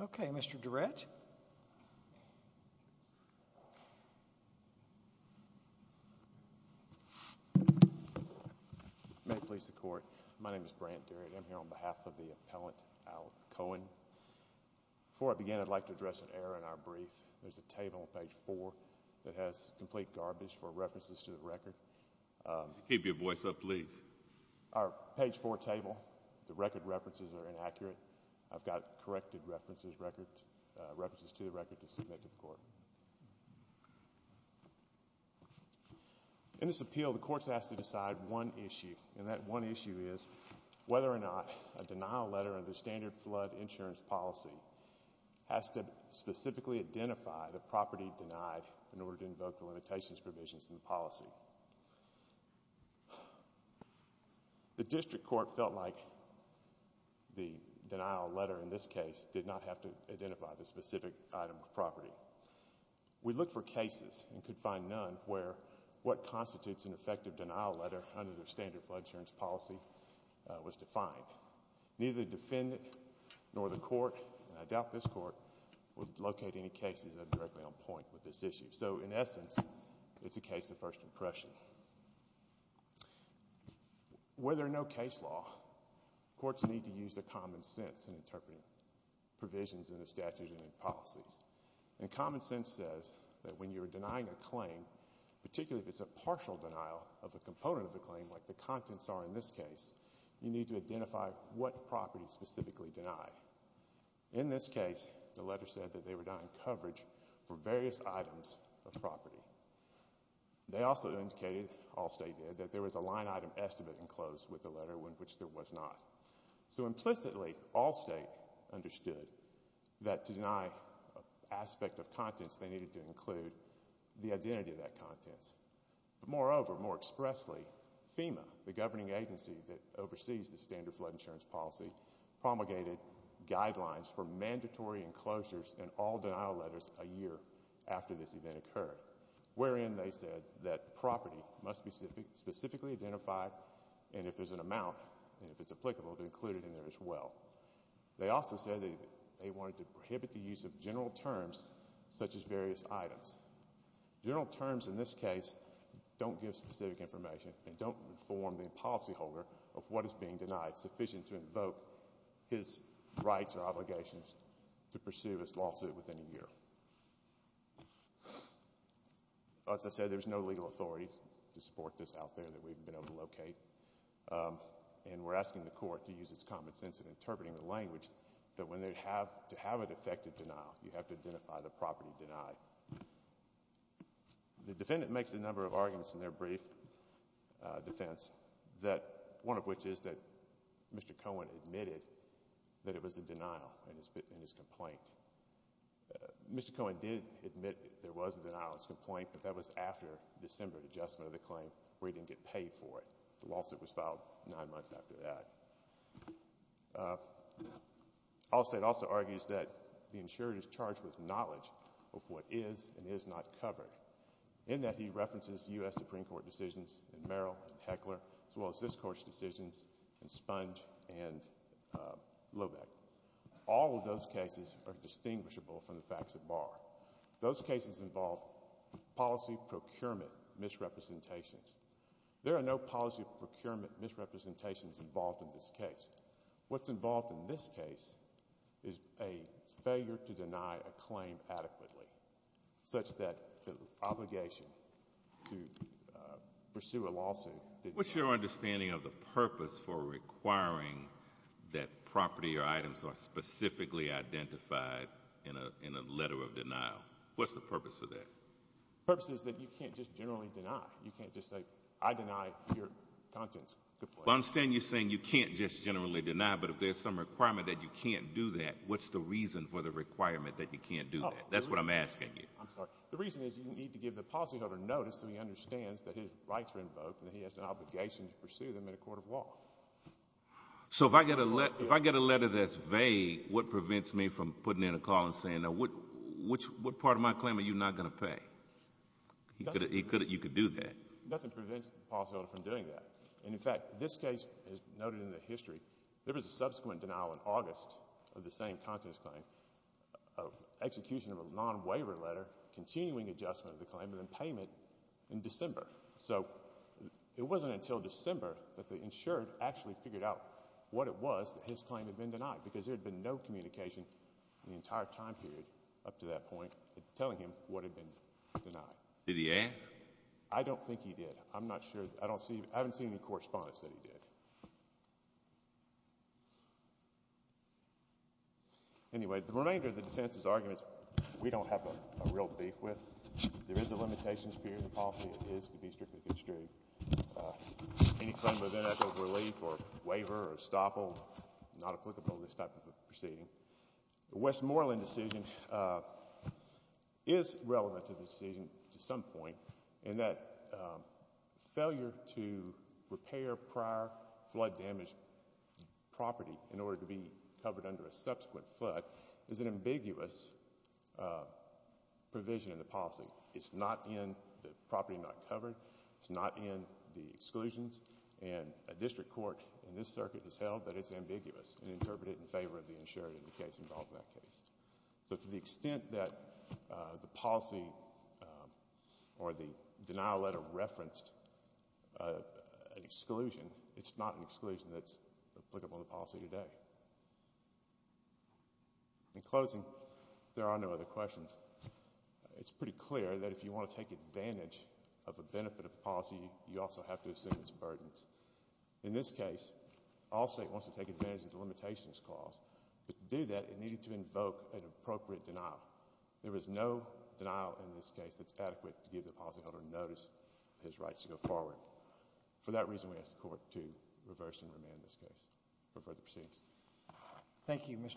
Okay, Mr. Durett. May it please the Court, my name is Brant Durett. I'm here on behalf of the appellant, Al Cohen. Before I begin, I'd like to address an error in our brief. There's a table on page 4 that has complete garbage for references to the record. Keep your voice up, please. Our page 4 table, the record references are inaccurate. I've got corrected references to the record to submit to the Court. In this appeal, the Court's asked to decide one issue, and that one issue is whether or not a denial letter under standard flood insurance policy has to specifically identify the property denied in order to invoke the limitations provisions in the policy. The district court felt like the denial letter in this case did not have to identify the specific item of property. We looked for cases and could find none where what constitutes an effective denial letter under their standard flood insurance policy was defined. Neither the defendant nor the Court, and I doubt this Court, would locate any cases that are directly on point with this issue. So, in essence, it's a case of first impression. Whether or no case law, courts need to use their common sense in interpreting provisions in the statute and in policies. And common sense says that when you're denying a claim, particularly if it's a partial denial of a component of the claim, like the contents are in this case, you need to identify what property is specifically denied. In this case, the letter said that they were denying coverage for various items of property. They also indicated, Allstate did, that there was a line item estimate enclosed with the letter, which there was not. So, implicitly, Allstate understood that to deny an aspect of contents, they needed to include the identity of that contents. But, moreover, more expressly, FEMA, the governing agency that oversees the standard flood insurance policy, promulgated guidelines for mandatory enclosures in all denial letters a year after this event occurred, wherein they said that property must be specifically identified, and if there's an amount, and if it's applicable, to include it in there as well. They also said that they wanted to prohibit the use of general terms, such as various items. General terms, in this case, don't give specific information and don't inform the policyholder of what is being denied, sufficient to invoke his rights or obligations to pursue his lawsuit within a year. As I said, there's no legal authority to support this out there that we've been able to locate, and we're asking the court to use its common sense in interpreting the language that when they have to have an effective denial, you have to identify the property denied. The defendant makes a number of arguments in their brief defense, one of which is that Mr. Cohen admitted that it was a denial in his complaint. Mr. Cohen did admit there was a denial in his complaint, but that was after December, the adjustment of the claim, where he didn't get paid for it. The lawsuit was filed nine months after that. Allstate also argues that the insurer is charged with knowledge of what is and is not covered, in that he references U.S. Supreme Court decisions in Merrill and Heckler, as well as this court's decisions in Spunge and Loeback. All of those cases are distinguishable from the facts at bar. Those cases involve policy procurement misrepresentations. There are no policy procurement misrepresentations involved in this case. What's involved in this case is a failure to deny a claim adequately, such that the obligation to pursue a lawsuit— What's your understanding of the purpose for requiring that property or items are specifically identified in a letter of denial? What's the purpose of that? The purpose is that you can't just generally deny. You can't just say, I deny your contents. Well, I understand you're saying you can't just generally deny, but if there's some requirement that you can't do that, what's the reason for the requirement that you can't do that? That's what I'm asking you. The reason is you need to give the policyholder notice that he understands that his rights are invoked and that he has an obligation to pursue them in a court of law. So if I get a letter that's vague, what prevents me from putting in a call and saying, what part of my claim are you not going to pay? You could do that. Nothing prevents the policyholder from doing that. And, in fact, this case is noted in the history. There was a subsequent denial in August of the same contents claim, execution of a non-waiver letter, continuing adjustment of the claim, and payment in December. So it wasn't until December that the insured actually figured out what it was that his claim had been denied, because there had been no communication in the entire time period up to that point telling him what had been denied. Did he act? I don't think he did. I'm not sure. I haven't seen any correspondence that he did. Anyway, the remainder of the defense's argument is we don't have a real beef with. There is a limitations period in the policy. It is to be strictly construed. Any claim of NFO relief or waiver or estoppel, not applicable to this type of proceeding. The Westmoreland decision is relevant to the decision to some point in that failure to repair prior flood-damaged property in order to be covered under a subsequent flood is an ambiguous provision in the policy. It's not in the property not covered. It's not in the exclusions. And a district court in this circuit has held that it's ambiguous and interpreted it in favor of the insured in the case involved in that case. So to the extent that the policy or the denial letter referenced an exclusion, it's not an exclusion that's applicable to the policy today. In closing, there are no other questions. It's pretty clear that if you want to take advantage of a benefit of the policy, you also have to assume its burdens. In this case, all state wants to take advantage of the limitations clause. But to do that, it needed to invoke an appropriate denial. There is no denial in this case that's adequate to give the policyholder notice of his rights to go forward. For that reason, we ask the Court to reverse and remand this case. No further proceedings. Thank you, Mr.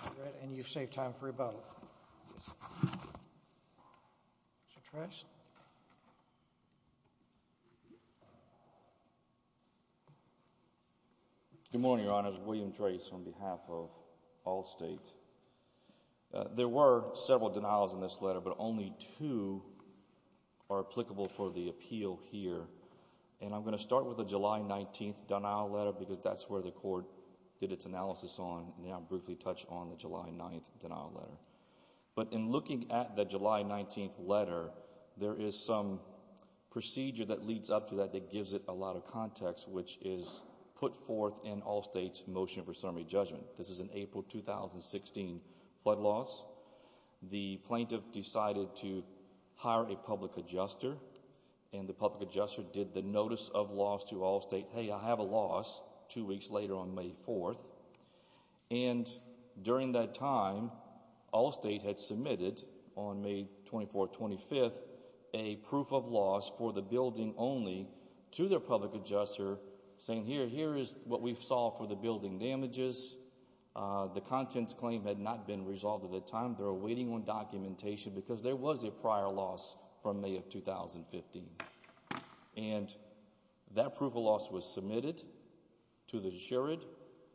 Shadratt, and you've saved time for rebuttal. Mr. Tracz? Good morning, Your Honors. William Tracz on behalf of all states. There were several denials in this letter, but only two are applicable for the appeal here. And I'm going to start with the July 19th denial letter, because that's where the Court did its analysis on, and I'll briefly touch on the July 9th denial letter. But in looking at the July 19th letter, there is some procedure that leads up to that that gives it a lot of context, which is put forth in all states' motion for summary judgment. This is an April 2016 flood loss. The plaintiff decided to hire a public adjuster, and the public adjuster did the notice of loss to all states, hey, I have a loss, two weeks later on May 4th. And during that time, all states had submitted on May 24th, 25th, a proof of loss for the building only to their public adjuster saying, here is what we saw for the building damages. The contents claim had not been resolved at that time. They were waiting on documentation because there was a prior loss from May of 2015. And that proof of loss was submitted to the jurid.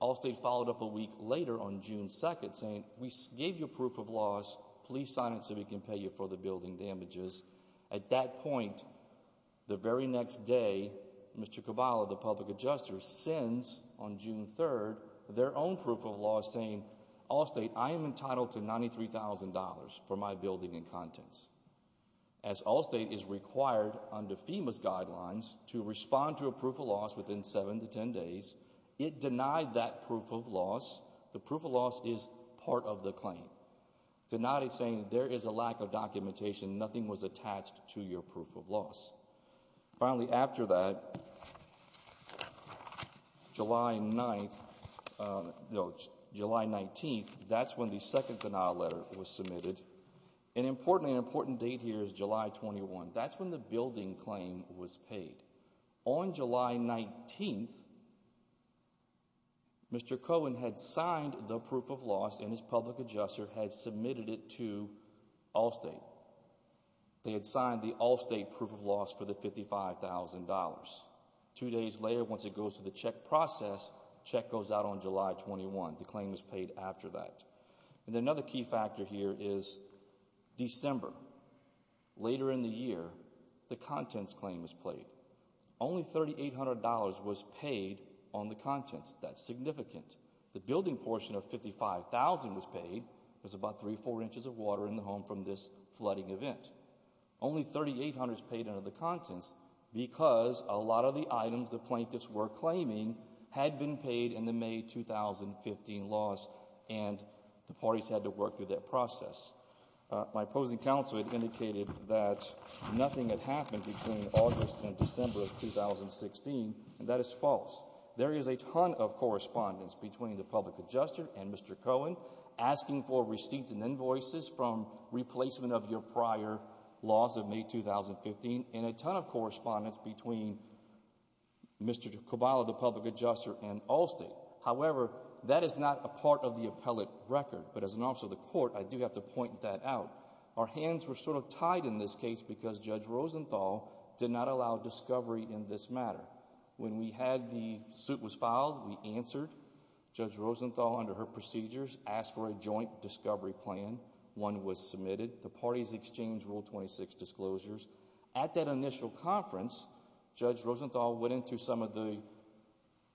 All states followed up a week later on June 2nd saying, we gave you proof of loss, please sign it so we can pay you for the building damages. At that point, the very next day, Mr. Caballa, the public adjuster, sends on June 3rd their own proof of loss saying, all state, I am entitled to $93,000 for my building and contents. As all state is required under FEMA's guidelines to respond to a proof of loss within 7 to 10 days, it denied that proof of loss. The proof of loss is part of the claim. Denied it saying there is a lack of documentation, nothing was attached to your proof of loss. Finally, after that, July 19th, that's when the second denial letter was submitted. An important date here is July 21. That's when the building claim was paid. On July 19th, Mr. Cohen had signed the proof of loss and his public adjuster had submitted it to all state. They had signed the all state proof of loss for the $55,000. Two days later, once it goes through the check process, the check goes out on July 21. The claim is paid after that. Another key factor here is December. Later in the year, the contents claim was paid. Only $3,800 was paid on the contents. That's significant. The building portion of $55,000 was paid. There's about three or four inches of water in the home from this flooding event. Only $3,800 was paid under the contents because a lot of the items the plaintiffs were claiming had been paid in the May 2015 loss and the parties had to work through that process. My opposing counsel had indicated that nothing had happened between August and December of 2016, and that is false. There is a ton of correspondence between the public adjuster and Mr. Cohen asking for receipts and invoices from replacement of your prior loss of May 2015 and a ton of correspondence between Mr. Caballa, the public adjuster, and Allstate. However, that is not a part of the appellate record, but as an officer of the court, I do have to point that out. Our hands were sort of tied in this case because Judge Rosenthal did not allow discovery in this matter. When the suit was filed, we answered. Judge Rosenthal, under her procedures, asked for a joint discovery plan. One was submitted. The parties exchanged Rule 26 disclosures. At that initial conference, Judge Rosenthal went into some of the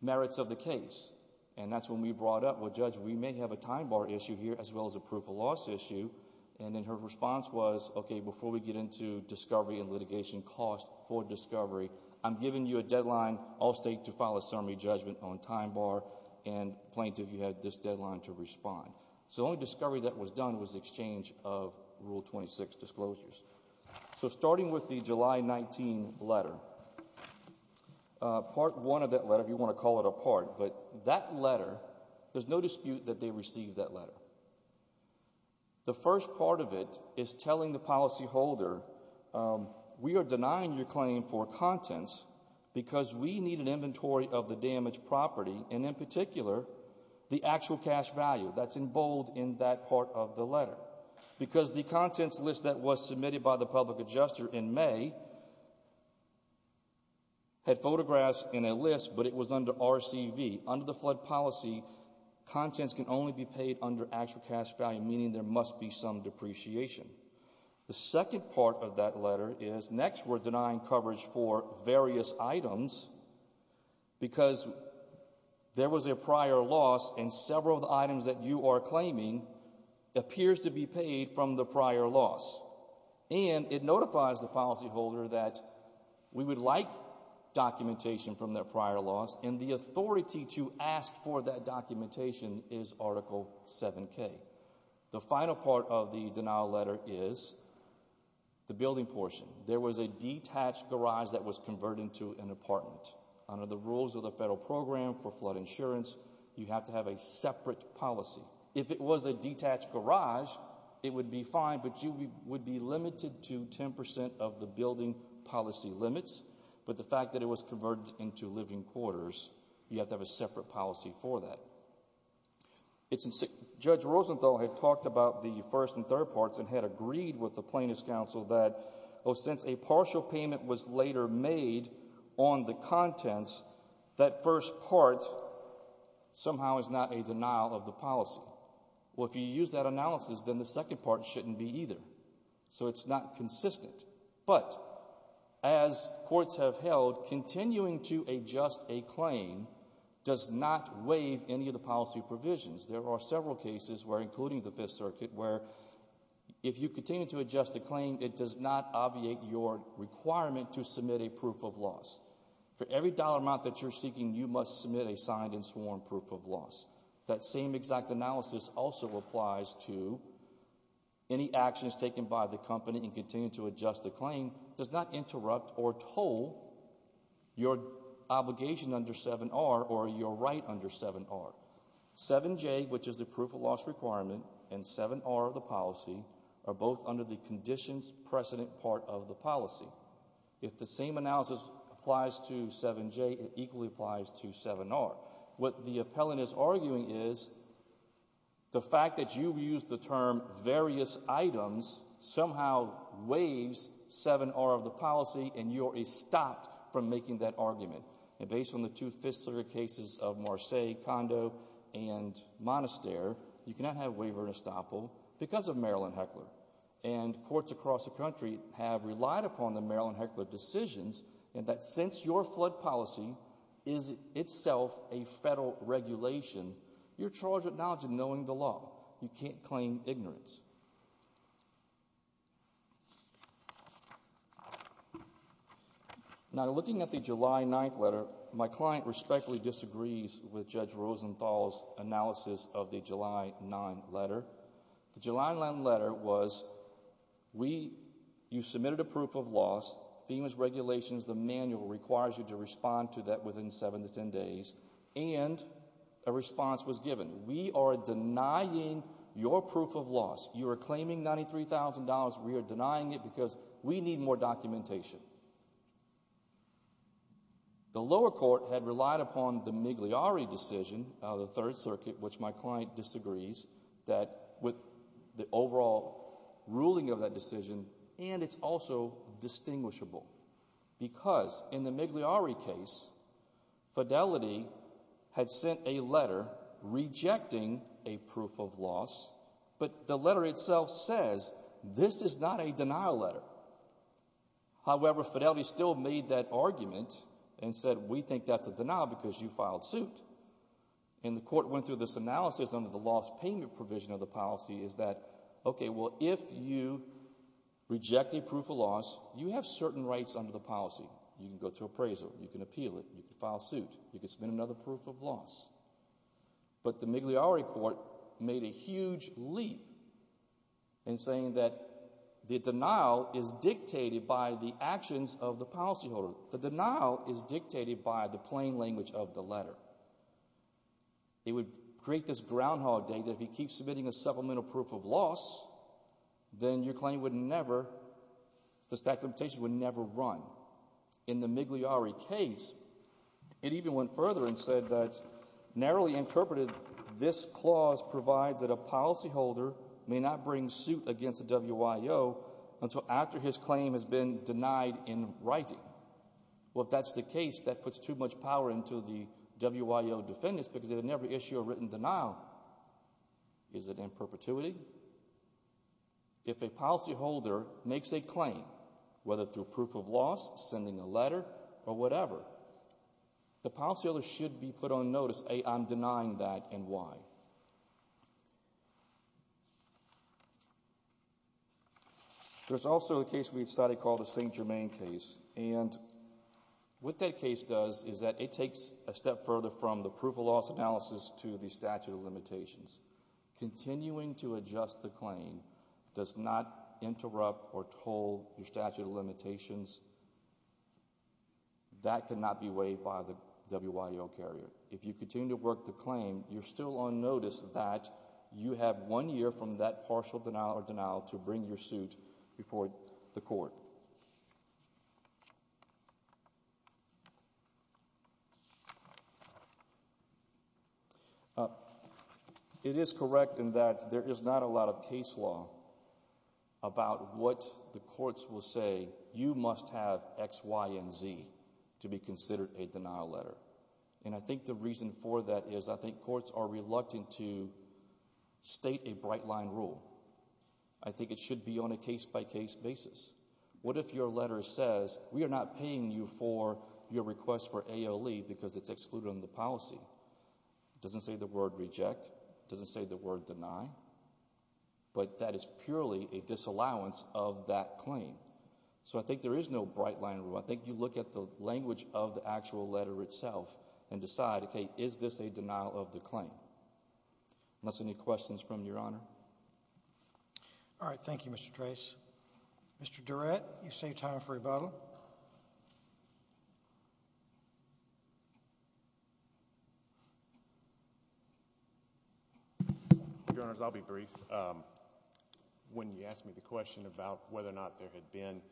merits of the case, and that's when we brought up, well, Judge, we may have a time bar issue here as well as a proof of loss issue, and then her response was, okay, before we get into discovery and litigation costs for discovery, I'm giving you a deadline, Allstate, to file a summary judgment on time bar, and plaintiff, you have this deadline to respond. So the only discovery that was done was the exchange of Rule 26 disclosures. So starting with the July 19 letter, part one of that letter, if you want to call it a part, but that letter, there's no dispute that they received that letter. The first part of it is telling the policyholder, we are denying your claim for contents because we need an inventory of the damaged property, and in particular, the actual cash value. That's in bold in that part of the letter. Because the contents list that was submitted by the public adjuster in May had photographs in a list, but it was under RCV. Under the flood policy, contents can only be paid under actual cash value, meaning there must be some depreciation. The second part of that letter is next we're denying coverage for various items because there was a prior loss, and several of the items that you are claiming appears to be paid from the prior loss. And it notifies the policyholder that we would like documentation from their prior loss, and the authority to ask for that documentation is Article 7K. The final part of the denial letter is the building portion. There was a detached garage that was converted into an apartment. Under the rules of the federal program for flood insurance, you have to have a separate policy. If it was a detached garage, it would be fine, but you would be limited to 10% of the building policy limits. But the fact that it was converted into living quarters, you have to have a separate policy for that. Judge Rosenthal had talked about the first and third parts and had agreed with the plaintiff's counsel that, since a partial payment was later made on the contents, that first part somehow is not a denial of the policy. Well, if you use that analysis, then the second part shouldn't be either. So it's not consistent. But as courts have held, continuing to adjust a claim does not waive any of the policy provisions. There are several cases, including the Fifth Circuit, where if you continue to adjust a claim, it does not obviate your requirement to submit a proof of loss. For every dollar amount that you're seeking, you must submit a signed and sworn proof of loss. That same exact analysis also applies to any actions taken by the company in continuing to adjust the claim, does not interrupt or toll your obligation under 7R or your right under 7R. 7J, which is the proof of loss requirement, and 7R, the policy, are both under the conditions precedent part of the policy. If the same analysis applies to 7J, it equally applies to 7R. What the appellant is arguing is the fact that you used the term where various items somehow waives 7R of the policy and you are stopped from making that argument. And based on the two Fifth Circuit cases of Marseilles, Condo, and Monastere, you cannot have waiver and estoppel because of Maryland Heckler. And courts across the country have relied upon the Maryland Heckler decisions in that since your flood policy is itself a federal regulation, you're charged with knowledge and knowing the law. You can't claim ignorance. Now, looking at the July 9th letter, my client respectfully disagrees with Judge Rosenthal's analysis of the July 9th letter. The July 9th letter was you submitted a proof of loss, FEMA's regulations, the manual requires you to respond to that within 7 to 10 days, and a response was given. We are denying your proof of loss. You are claiming $93,000. We are denying it because we need more documentation. The lower court had relied upon the Migliore decision of the Third Circuit, which my client disagrees with the overall ruling of that decision, and it's also distinguishable because in the Migliore case, Fidelity had sent a letter rejecting a proof of loss, but the letter itself says this is not a denial letter. However, Fidelity still made that argument and said, we think that's a denial because you filed suit. And the court went through this analysis under the loss payment provision of the policy is that, okay, well, if you reject a proof of loss, you have certain rights under the policy. You can go to appraisal. You can appeal it. You can file suit. You can submit another proof of loss. But the Migliore court made a huge leap in saying that the denial is dictated by the actions of the policyholder. The denial is dictated by the plain language of the letter. It would create this groundhog day that if you keep submitting a supplemental proof of loss, then your claim would never, the statute of limitations would never run. In the Migliore case, it even went further and said that, narrowly interpreted, this clause provides that a policyholder may not bring suit against the WIO until after his claim has been denied in writing. Well, if that's the case, that puts too much power into the WIO defendants because they would never issue a written denial. Why? Is it in perpetuity? If a policyholder makes a claim, whether through proof of loss, sending a letter, or whatever, the policyholder should be put on notice, A, I'm denying that, and Y. There's also a case we decided to call the St. Germain case, and what that case does is that it takes a step further from the proof of loss analysis to the statute of limitations. Continuing to adjust the claim does not interrupt or toll the statute of limitations. That cannot be waived by the WIO carrier. If you continue to work the claim, you're still on notice that you have one year from that partial denial or denial to bring your suit before the court. It is correct in that there is not a lot of case law about what the courts will say, you must have X, Y, and Z to be considered a denial letter. And I think the reason for that is I think courts are reluctant to state a bright-line rule. I think it should be on a case-by-case basis. What if your letter says, we are not paying you for your request for ALE because it's excluded on the policy? It doesn't say the word reject. It doesn't say the word deny. But that is purely a disallowance of that claim. So I think there is no bright-line rule. I think you look at the language of the actual letter itself and decide, okay, is this a denial of the claim? Unless there are any questions from Your Honor. All right. Thank you, Mr. Trace. Mr. Durrett, you save time for rebuttal. Your Honors, I'll be brief. When you asked me the question about whether or not there had been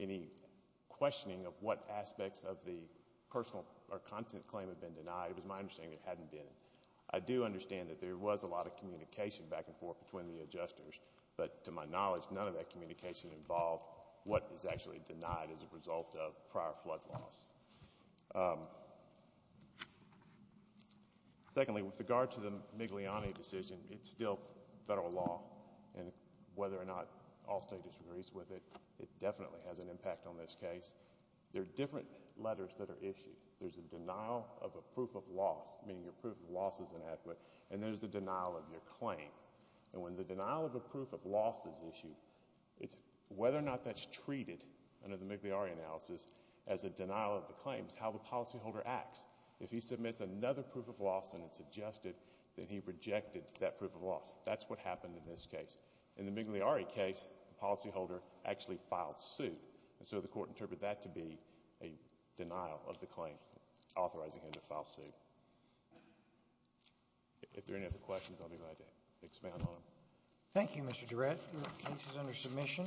any questioning of what aspects of the personal or content claim had been denied, it was my understanding it hadn't been. I do understand that there was a lot of communication back and forth between the adjusters. But to my knowledge, none of that communication involved what is actually denied as a result of prior flood loss. Secondly, with regard to the Migliani decision, it's still federal law. And whether or not Allstate disagrees with it, it definitely has an impact on this case. There are different letters that are issued. There's a denial of a proof of loss, meaning your proof of loss is inadequate, and there's a denial of your claim. And when the denial of a proof of loss is issued, it's whether or not that's treated under the Migliani analysis as a denial of the claims, how the policyholder acts. If he submits another proof of loss and it's adjusted, then he rejected that proof of loss. That's what happened in this case. In the Migliani case, the policyholder actually filed suit. And so the court interpreted that to be a denial of the claim, authorizing him to file suit. If there are any other questions, I'll be glad to expand on them. Thank you, Mr. Durrett. The case is under submission.